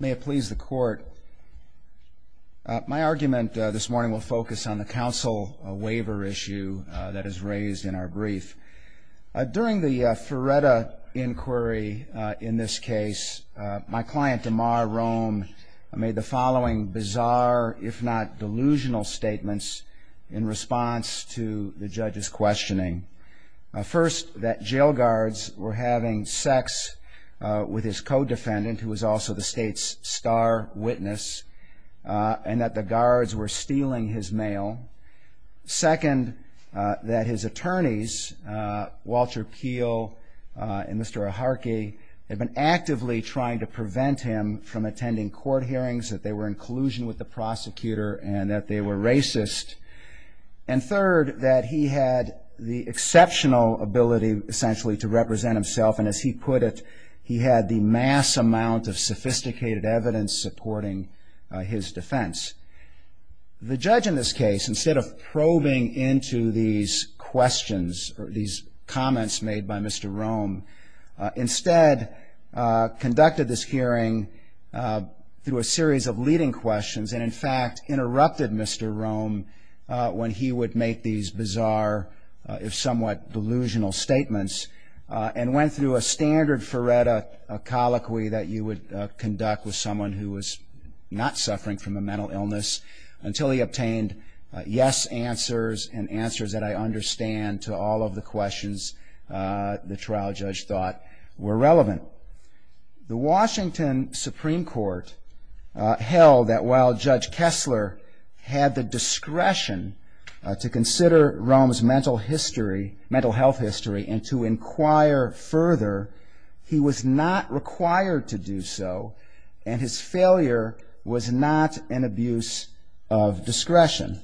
May it please the court. My argument this morning will focus on the counsel waiver issue that is raised in our brief. During the Ferretta inquiry in this case, my client Demar Rhome made the following bizarre, if not delusional, statements in response to the judge's questioning. First, that jail guards were having sex with his co-defendant, who was also the state's star witness, and that the guards were stealing his mail. Second, that his attorneys, Walter Peele and Mr. Aharkey, had been actively trying to prevent him from attending court hearings, that they were in collusion with the prosecutor, and that they were racist. And third, that he had the exceptional ability, essentially, to represent himself, and as he put it, he had the mass amount of sophisticated evidence supporting his defense. The judge, in this case, instead of probing into these questions, or these comments made by Mr. Rhome, instead conducted this hearing through a series of leading questions, and in fact, interrupted Mr. Rhome when he would make these bizarre, if somewhat delusional, statements, and went through a standard Ferretta colloquy that you would conduct with someone who was not suffering from a mental illness, until he obtained yes answers, and answers that I understand to all of the questions the trial judge thought were relevant. The Washington Rhome's mental health history, and to inquire further, he was not required to do so, and his failure was not an abuse of discretion.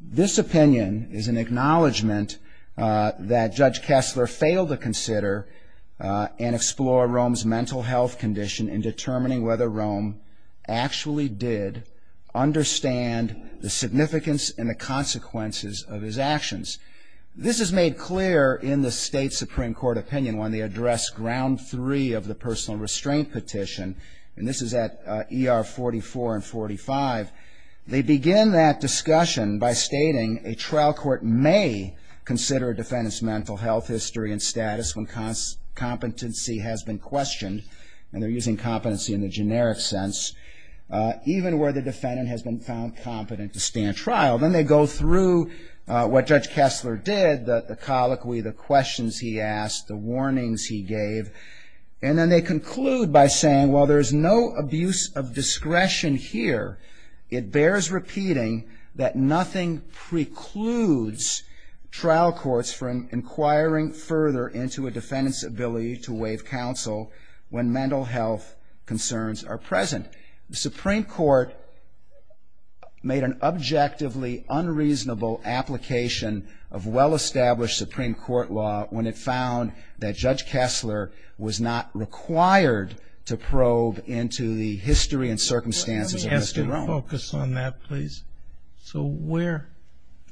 This opinion is an acknowledgment that Judge Kessler failed to consider and explore Rhome's mental health condition in determining whether Rhome actually did understand the significance and the consequences of his actions. This is made clear in the state Supreme Court opinion when they address ground three of the personal restraint petition, and this is at ER 44 and 45. They begin that discussion by stating a trial court may consider a defendant's mental health history and status when competency has been questioned, and they're using competency in a generic sense, even where the defendant has been found competent to stand trial. Then they go through what Judge Kessler did, the colloquy, the questions he asked, the warnings he gave, and then they conclude by saying, while there is no abuse of discretion here, it bears repeating that nothing precludes trial courts from inquiring further into a defendant's ability to address their concerns are present. The Supreme Court made an objectively unreasonable application of well-established Supreme Court law when it found that Judge Kessler was not required to probe into the history and circumstances of Mr. Rhome. Let me ask you to focus on that, please. So where,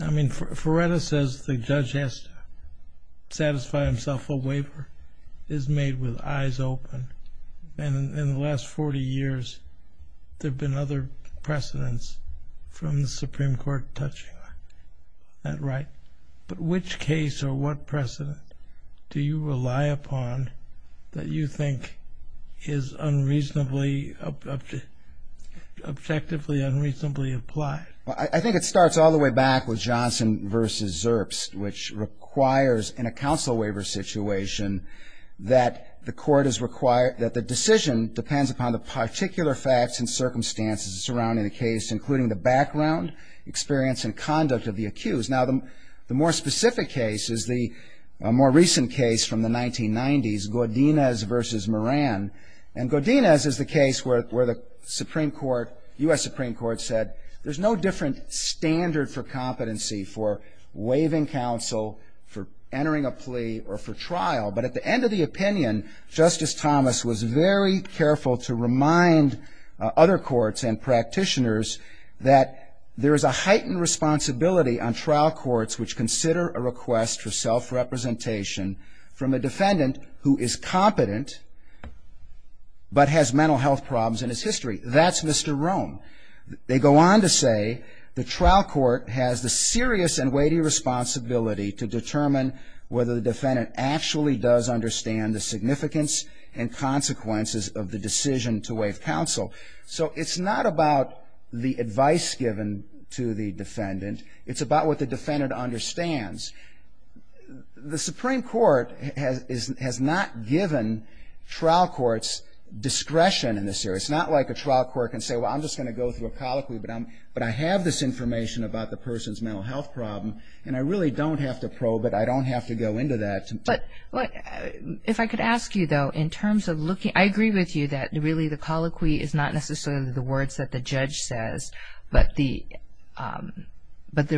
I mean, Ferreira says the judge has to satisfy himself a waiver. It is made with eyes open, and in the last 40 years, there have been other precedents from the Supreme Court touching that right. But which case or what precedent do you rely upon that you think is unreasonably, objectively unreasonably applied? Well, I think it starts all the way back with Johnson v. Zerps, which requires in a counsel waiver situation that the court is required, that the decision depends upon the particular facts and circumstances surrounding the case, including the background, experience, and conduct of the accused. Now, the more specific case is the more recent case from the 1990s, Godinez v. Moran. And Godinez is the case where the Supreme Court, U.S. Supreme Court said, there's no different standard for competency for waiving counsel, for entering a plea, or for trial. But at the end of the opinion, Justice Thomas was very careful to remind other courts and practitioners that there is a heightened responsibility on trial courts which consider a request for self-representation from a defendant who is competent but has mental health problems in his history. That's Mr. Rome. They go on to say the trial court has the serious and weighty responsibility to determine whether the defendant actually does understand the significance and consequences of the decision to waive counsel. So it's not about the advice given to the defendant. It's about what the defendant understands. The Supreme Court has not given trial courts discretion in this case to say, well, I'm just going to go through a colloquy, but I have this information about the person's mental health problem, and I really don't have to probe it. I don't have to go into that. But if I could ask you, though, in terms of looking, I agree with you that really the colloquy is not necessarily the words that the judge says, but the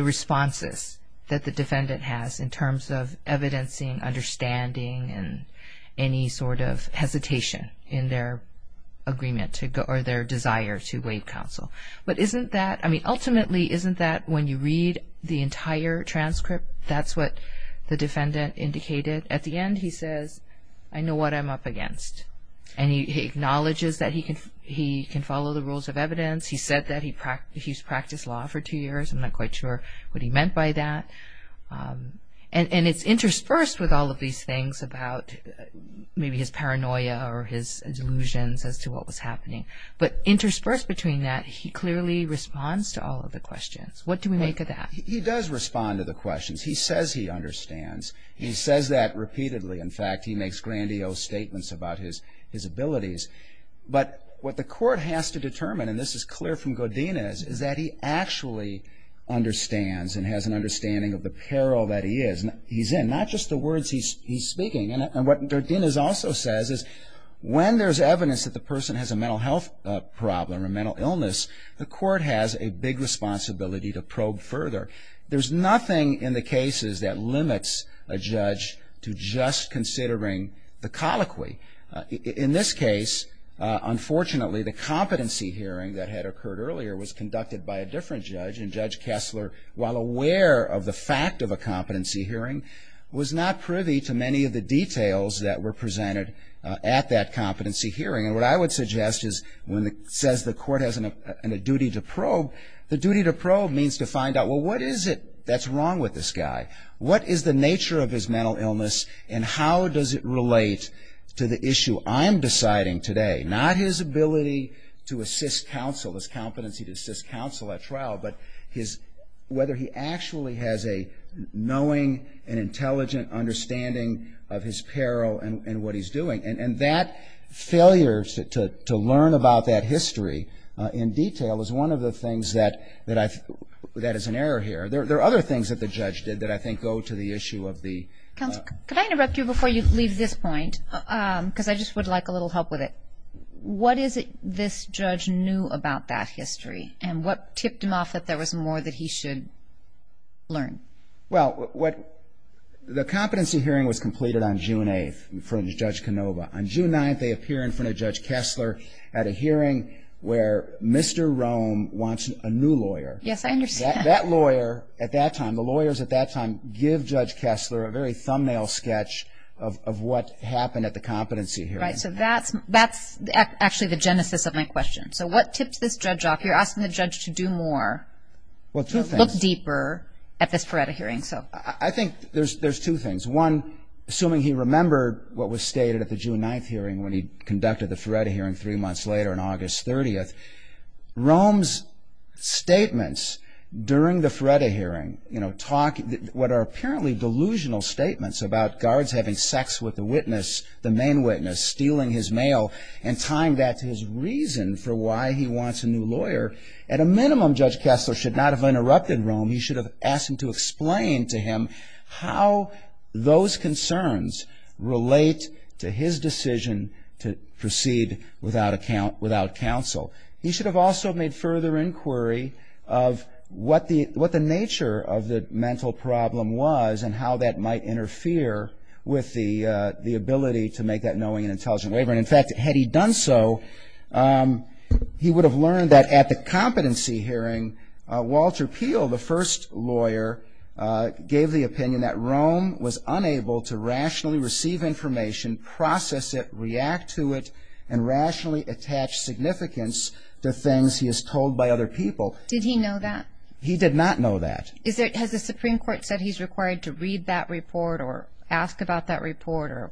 responses that the defendant has in terms of evidencing, understanding, and any sort of hesitation in their agreement or their desire to waive counsel. But ultimately, isn't that when you read the entire transcript, that's what the defendant indicated? At the end, he says, I know what I'm up against. And he acknowledges that he can follow the rules of evidence. He said that he's practiced law for two years. I'm not quite sure what he meant by that. And it's his paranoia or his delusions as to what was happening. But interspersed between that, he clearly responds to all of the questions. What do we make of that? He does respond to the questions. He says he understands. He says that repeatedly. In fact, he makes grandiose statements about his abilities. But what the court has to determine, and this is clear from Godinez, is that he actually understands and has an understanding of the peril that he is in, not just the words he's speaking. And what Godinez also says is when there's evidence that the person has a mental health problem, a mental illness, the court has a big responsibility to probe further. There's nothing in the cases that limits a judge to just considering the colloquy. In this case, unfortunately, the competency hearing that had occurred earlier was conducted by a different judge. And Judge Kessler, while aware of the fact of a competency hearing, was not privy to many of the details that were presented at that competency hearing. And what I would suggest is when it says the court has a duty to probe, the duty to probe means to find out, well, what is it that's wrong with this guy? What is the nature of his mental illness and how does it relate to the issue I'm deciding today? Not his ability to assist counsel, his an intelligent understanding of his peril and what he's doing. And that failure to learn about that history in detail is one of the things that is an error here. There are other things that the judge did that I think go to the issue of the... Counsel, could I interrupt you before you leave this point? Because I just would like a little help with it. What is it this judge knew about that history? And what tipped him off that there was more that he should learn? Well, the competency hearing was completed on June 8th in front of Judge Canova. On June 9th, they appear in front of Judge Kessler at a hearing where Mr. Rome wants a new lawyer. Yes, I understand. That lawyer at that time, the lawyers at that time give Judge Kessler a very thumbnail sketch of what happened at the competency hearing. Right. So that's actually the genesis of my question. So what tipped this judge off? You're asking the judge to do more, to look deeper at this FARETA hearing. I think there's two things. One, assuming he remembered what was stated at the June 9th hearing when he conducted the FARETA hearing three months later on August 30th, Rome's statements during the FARETA hearing, what are apparently delusional statements about guards having sex with the witness, the main witness, stealing his mail, and tying that to his reason for why he wants a new lawyer. At a minimum, Judge Kessler should not have interrupted and explained to him how those concerns relate to his decision to proceed without counsel. He should have also made further inquiry of what the nature of the mental problem was and how that might interfere with the ability to make that knowing and intelligent waiver. And in fact, had he done so, he would have learned that at the competency hearing, Walter Peel, the first lawyer, gave the opinion that Rome was unable to rationally receive information, process it, react to it, and rationally attach significance to things he is told by other people. Did he know that? He did not know that. Has the Supreme Court said he's required to read that report or ask about that report?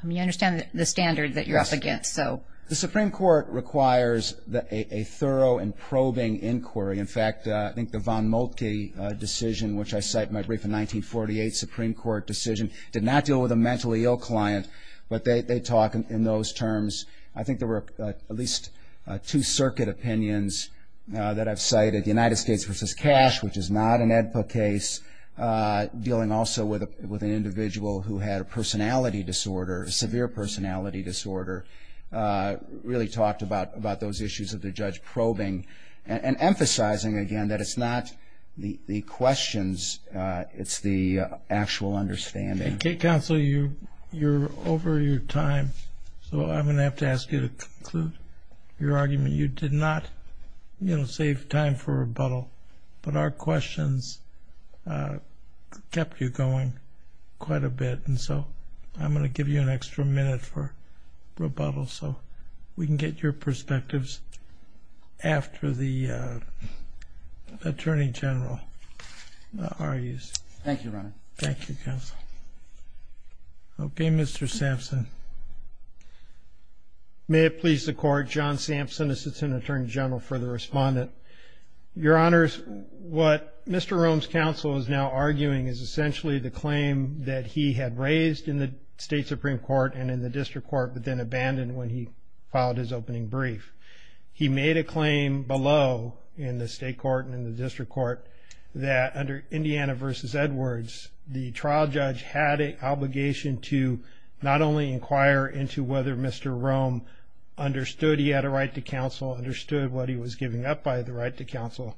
I mean, I understand the standard that you're up against. The Supreme Court requires a thorough and probing inquiry. In fact, I think the Von Moltke decision, which I cite in my brief in 1948, Supreme Court decision, did not deal with a mentally ill client, but they talk in those terms. I think there were at least two circuit opinions that I've cited, United States v. Cash, which is not an AEDPA case, dealing also with an individual who had a personality disorder, a severe personality disorder, really talked about those issues of the judge probing and emphasizing, again, that it's not the questions, it's the actual understanding. And Counsel, you're over your time, so I'm going to have to ask you to conclude your argument. You did not, you know, save time for rebuttal, but our questions kept you going quite a bit, and so I'm going to give you an extra minute for rebuttal so we can get your perspectives after the Attorney General argues. Thank you, Your Honor. Thank you, Counsel. Okay, Mr. Sampson. May it please the Court, John Sampson, Assistant Attorney General for the District Court. Mr. Rome's counsel is now arguing, is essentially the claim that he had raised in the State Supreme Court and in the District Court, but then abandoned when he filed his opening brief. He made a claim below, in the State Court and in the District Court, that under Indiana v. Edwards, the trial judge had an obligation to not only inquire into whether Mr. Rome understood he had a right to counsel, understood what he was giving up by the right to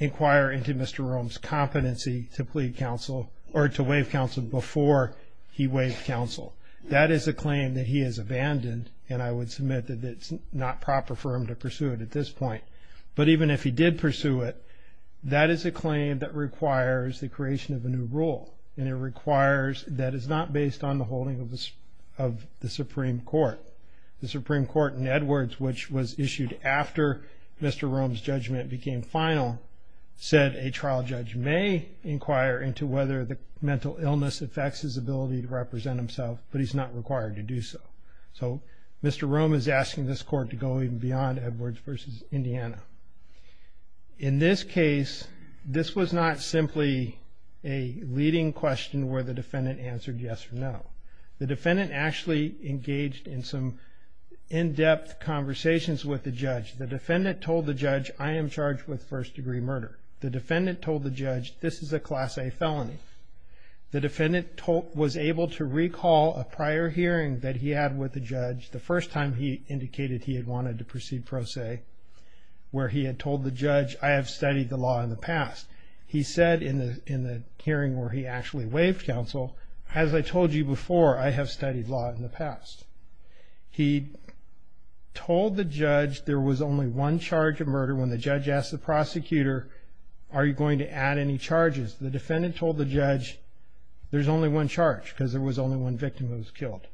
inquire into Mr. Rome's competency to plead counsel, or to waive counsel before he waived counsel. That is a claim that he has abandoned, and I would submit that it's not proper for him to pursue it at this point. But even if he did pursue it, that is a claim that requires the creation of a new rule, and it requires that it's not based on the holding of the Supreme Court. The Supreme Court in Edwards, which was issued after Mr. Rome's judgment became final, said a trial judge may inquire into whether the mental illness affects his ability to represent himself, but he's not required to do so. So Mr. Rome is asking this court to go even beyond Edwards v. Indiana. In this case, this was not simply a leading question where the defendant answered yes or no. The defendant actually engaged in some in-depth conversations with the judge. The defendant told the judge, I am charged with first-degree murder. The defendant told the judge, this is a Class A felony. The defendant was able to recall a prior hearing that he had with the judge the first time he indicated he had wanted to proceed pro se, where he had told the judge, I have studied the law in the past. He said in the hearing where he actually waived counsel, as I told you before, I have studied law in the past. He told the judge there was only one charge of murder. When the judge asked the prosecutor, are you going to add any charges, the defendant told the judge, there's only one charge because there was only one victim who was killed.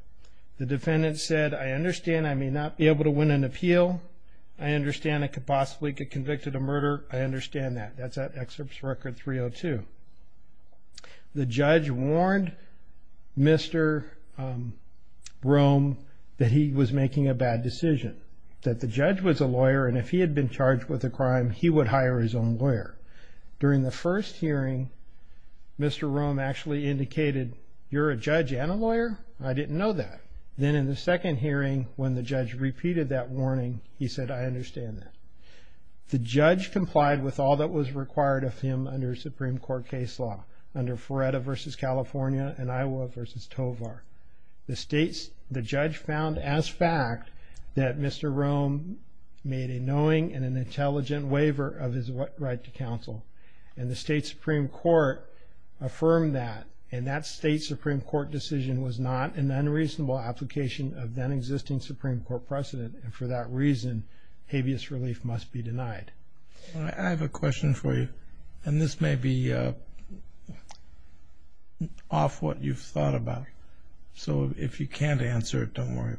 The defendant said, I understand I may not be able to win an appeal. I understand I could possibly get convicted of murder. I understand that. That's at excerpt record 302. The judge warned Mr. Rome that he was making a bad decision, that the judge was a lawyer, and if he had been charged with a crime, he would hire his own lawyer. During the first hearing, Mr. Rome actually indicated, you're a judge and a lawyer? I didn't know that. Then in the second hearing, when the judge repeated that warning, he said, I understand that. The judge complied with all that was required of him under Supreme Court case law, under Ferretta v. California and made a knowing and an intelligent waiver of his right to counsel. The state Supreme Court affirmed that. That state Supreme Court decision was not an unreasonable application of then existing Supreme Court precedent. For that reason, habeas relief must be denied. I have a question for you. This may be off what you've thought about, so if you can't answer it, don't worry.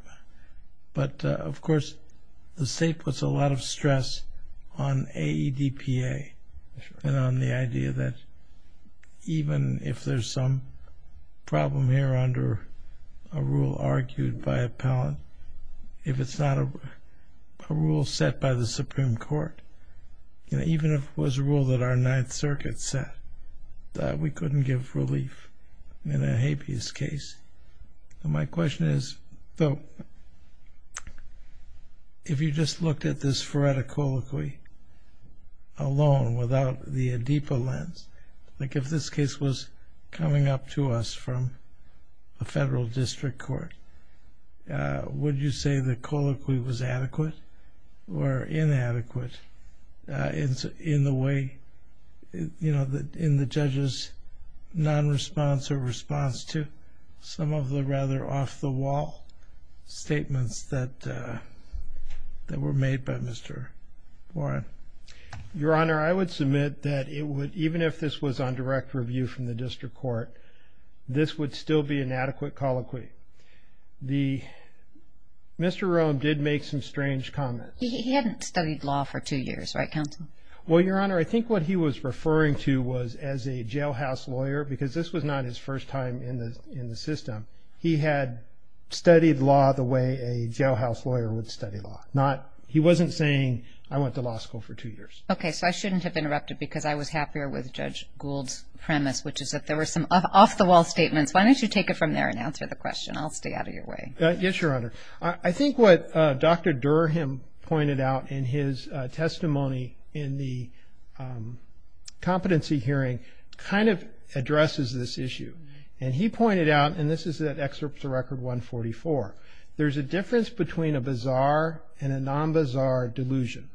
But, of course, the state puts a lot of stress on AEDPA and on the idea that even if there's some problem here under a rule argued by appellant, if it's not a rule set by the Supreme Court, even if it was a rule that our Ninth Circuit set, that we couldn't give relief in a habeas case. My question is, though, if you just looked at this Ferretta colloquy alone without the AEDPA lens, like if this case was coming up to us from a federal district court, would you say the in the judge's non-response or response to some of the rather off-the-wall statements that were made by Mr. Warren? Your Honor, I would submit that even if this was on direct review from the district court, this would still be an adequate colloquy. Mr. Rome did make some strange comments. He hadn't studied law for two years, right, counsel? Well, Your Honor, I think what he was referring to was as a jailhouse lawyer, because this was not his first time in the system, he had studied law the way a jailhouse lawyer would study law. He wasn't saying, I went to law school for two years. Okay, so I shouldn't have interrupted because I was happier with Judge Gould's premise, which is that there were some off-the-wall statements. Why don't you take it from there and answer the question? I'll stay out of your way. Yes, Your Honor. I think what Dr. Durham pointed out in his testimony in the competency hearing kind of addresses this issue, and he pointed out, and this is that excerpt from Record 144, there's a difference between a bizarre and a non-bizarre delusion.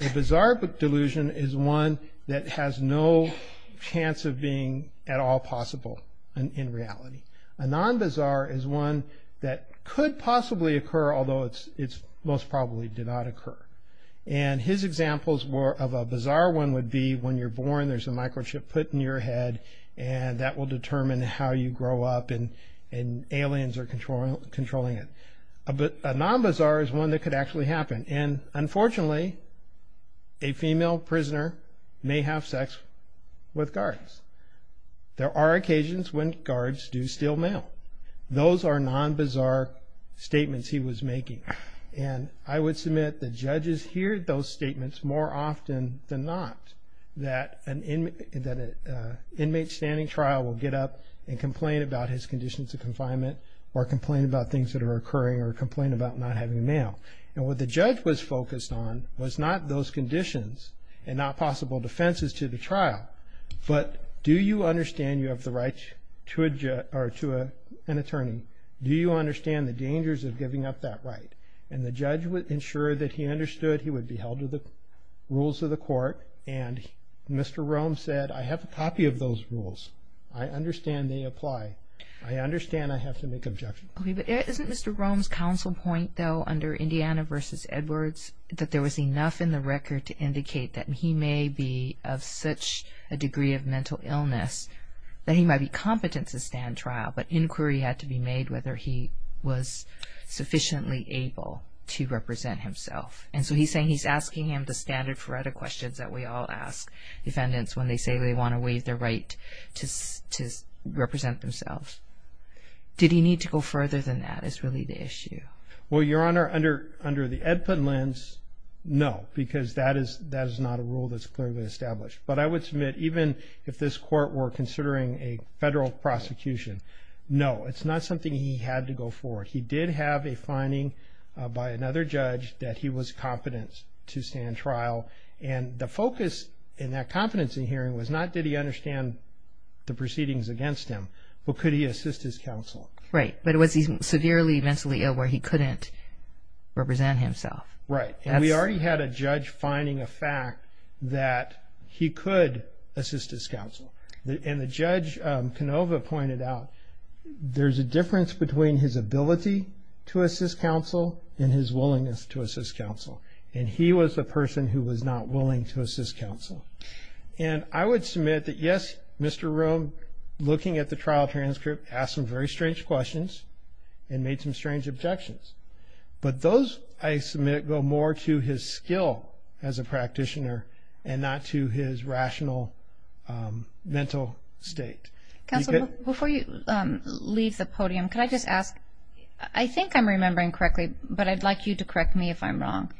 A bizarre delusion is one that has no chance of being at all possible in reality. A non-bizarre is one that could possibly occur, although it most probably did not occur. And his examples of a bizarre one would be when you're born, there's a microchip put in your head, and that will determine how you grow up, and aliens are controlling it. A non-bizarre is one that could actually happen, and unfortunately, a female prisoner may have sex with guards. There are occasions when those are non-bizarre statements he was making. And I would submit that judges hear those statements more often than not, that an inmate standing trial will get up and complain about his conditions of confinement, or complain about things that are occurring, or complain about not having a male. And what the judge was focused on was not those conditions and not possible defenses to the trial, but do you understand you have the right to an attorney? Do you understand the dangers of giving up that right? And the judge would ensure that he understood he would be held to the rules of the court, and Mr. Rome said, I have a copy of those rules. I understand they apply. I understand I have to make objections. Okay, but isn't Mr. Rome's counsel point, though, under Indiana v. Edwards, that there was enough in the record to indicate that he may be of such a degree of mental illness, that he might be competent to stand trial, but inquiry had to be made whether he was sufficiently able to represent himself. And so he's saying he's asking him the standard Faretta questions that we all ask defendants when they say they want to waive their right to represent themselves. Did he need to go further than that is really the issue? Well, Your Honor, under the Edputt lens, no, because that is not a rule that's clearly established. But I would submit, even if this court were considering a federal prosecution, no, it's not something he had to go forward. He did have a finding by another judge that he was competent to stand trial. And the focus in that competency hearing was not did he understand the proceedings against him, but could he assist his counsel? Right. But was he severely mentally ill where he couldn't represent himself? Right. And we already had a judge finding a fact that he could assist his counsel. And the Judge Canova pointed out there's a difference between his ability to assist counsel and his willingness to assist counsel. And he was the person who was not willing to assist counsel. And I would submit that, yes, Mr. Rome, looking at the trial transcript, asked some very strange questions and made some strange objections. But those, I submit, go more to his skill as a practitioner and not to his rational mental state. Counsel, before you leave the podium, can I just ask, I think I'm remembering correctly, but I'd like you to correct me if I'm wrong.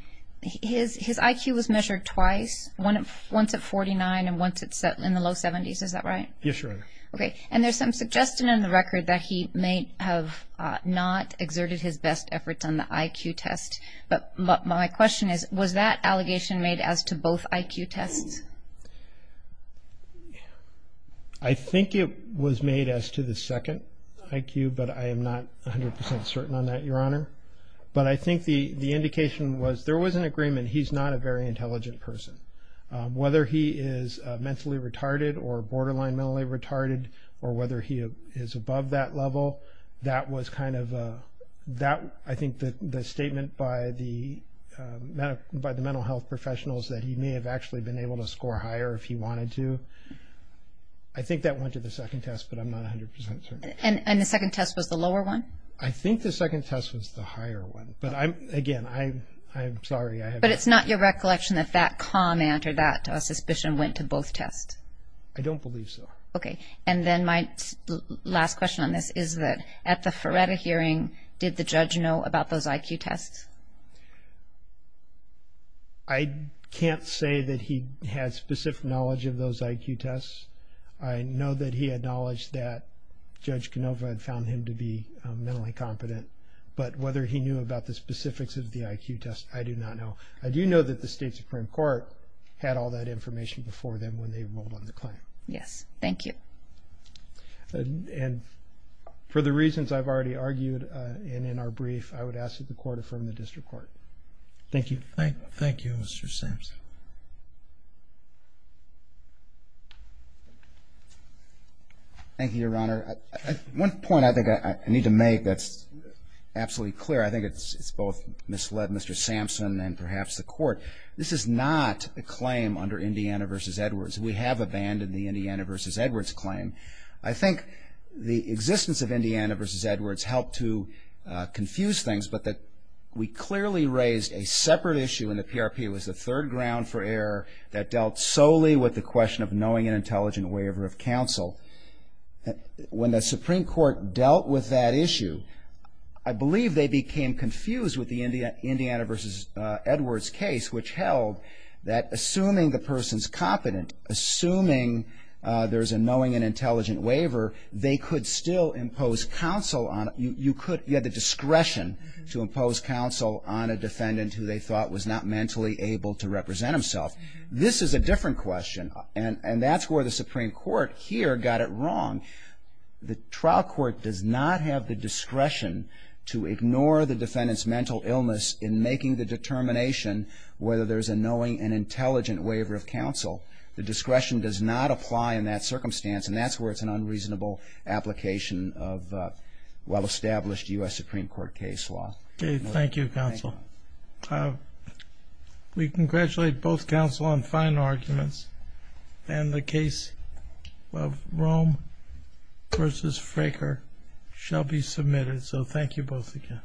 His IQ was measured twice, once at 49 and once in the low 70s. Is that right? Yes, Your Honor. Okay. And there's some suggestion in the record that he may have not exerted his best efforts on the IQ test. But my question is, was that allegation made as to both IQ tests? I think it was made as to the second IQ, but I am not 100% certain on that, Your Honor. But I think the indication was there was an agreement. He's not a very intelligent person. Whether he is mentally retarded or borderline mentally retarded, or whether he is above that level, that was kind of, I think the statement by the mental health professionals that he may have actually been able to score higher if he wanted to. I think that went to the second test, but I'm not 100% certain. And the second test was the lower one? I think the second test was the higher one. But again, I'm sorry. But it's not your recollection that that comment or that suspicion went to both tests? I don't believe so. Okay. And then my last question on this is that at the Ferreta hearing, did the judge know about those IQ tests? I can't say that he had specific knowledge of those IQ tests. I know that he had knowledge that Judge Canova had found him to be mentally competent. But whether he knew about the specifics of the IQ test, I do not know. I do know that the State Supreme Court had all that information before them when they rolled on the claim. Yes. Thank you. And for the reasons I've already argued in our brief, I would ask that the court affirm the district court. Thank you. Thank you, Mr. Sampson. Thank you, Your Honor. One point I think I need to make that's absolutely clear. I think it's both misled Mr. Sampson and perhaps the court. This is not a claim under Indiana v. Edwards. We have abandoned the Indiana v. Edwards claim. I think the existence of Indiana v. Edwards helped to confuse things, but that we clearly raised a separate issue in the PRP. It was the third ground for error that dealt solely with the question of knowing an intelligent waiver of counsel. When the Supreme Court dealt with that issue, I believe they became confused with the Indiana v. Edwards case, which held that assuming the person's competent, assuming there's a knowing and intelligent waiver, they could still impose counsel on it. You could get the discretion to impose counsel on a defendant who they thought was not mentally able to represent himself. This is a different question, and that's where the Supreme Court here got it wrong. The trial court does not have the discretion to ignore the defendant's mental illness in making the determination whether there's a knowing and intelligent waiver of counsel. The discretion does not apply in that circumstance, and that's where it's an unreasonable application of well-established U.S. Supreme Court case law. Thank you, counsel. We congratulate both counsel on fine arguments, and the case of Rome v. Fraker shall be submitted. So thank you both again.